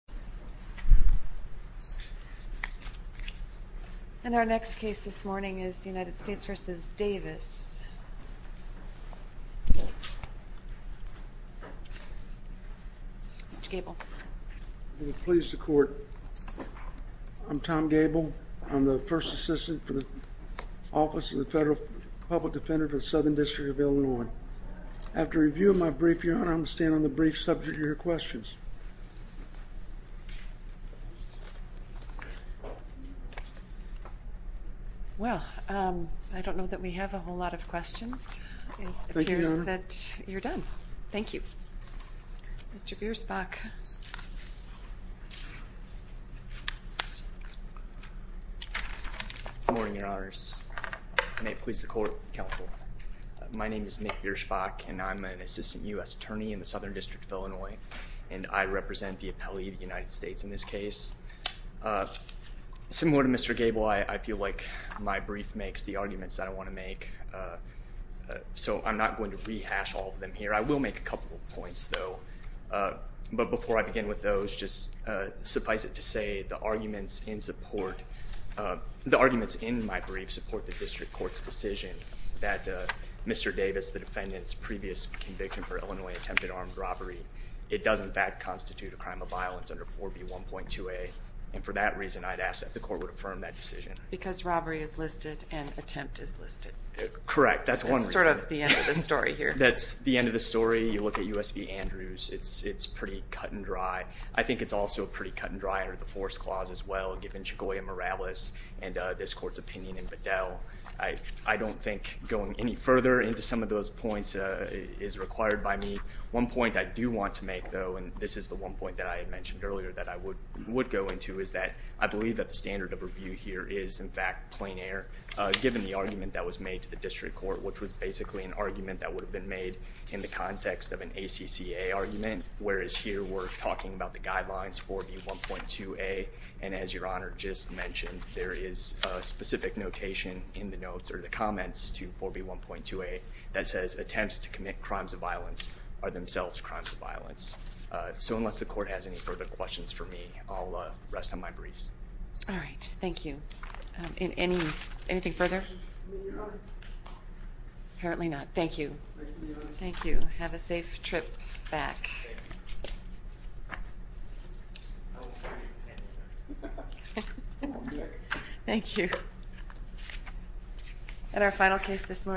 I'm Tom Gable. I'm the first assistant for the office of the Federal Public Defender for the Southern District of Illinois. After reviewing my brief, your honor, I'm going to stand on the brief subject of your questions. Well, I don't know that we have a whole lot of questions that you're done. Thank you. Mr. Bierschbach. Good morning, your honors. May it please the court, counsel. My name is Nick Bierschbach, and I'm an assistant U.S. attorney in the Southern District of Illinois, and I represent the appellee of the United States in this case. Similar to Mr. Gable, I feel like my brief makes the arguments that I want to make, so I'm not going to rehash all of them here. I will make a couple of points, though. But before I begin with those, just suffice it to say, the arguments in my brief support the district court's decision that Mr. Davis, the defendant's previous conviction for Illinois attempted armed robbery, it does in fact constitute a crime of violence under 4B1.2a. And for that reason, I'd ask that the court would affirm that decision. Because robbery is listed and attempt is listed. Correct. That's one reason. That's sort of the end of the story here. That's the end of the story. You look at U.S. v. Andrews, it's pretty cut and dry. I think it's also pretty cut and dry under the force clause as well, given Chigoya Morales and this court's opinion in Bedell. I don't think going any further into some of those points is required by me. One point I do want to make, though, and this is the one point that I had mentioned earlier that I would go into, is that I believe that the standard of review here is, in fact, given the argument that was made to the district court, which was basically an argument that would have been made in the context of an ACCA argument, whereas here we're talking about the guidelines 4B1.2a. And as Your Honor just mentioned, there is a specific notation in the notes or the comments to 4B1.2a that says, So unless the court has any further questions for me, I'll rest on my briefs. All right. Thank you. Anything further? No, Your Honor. Apparently not. Thank you. Thank you, Your Honor. Thank you. Have a safe trip back. Thank you. Thank you. And our final case this morning.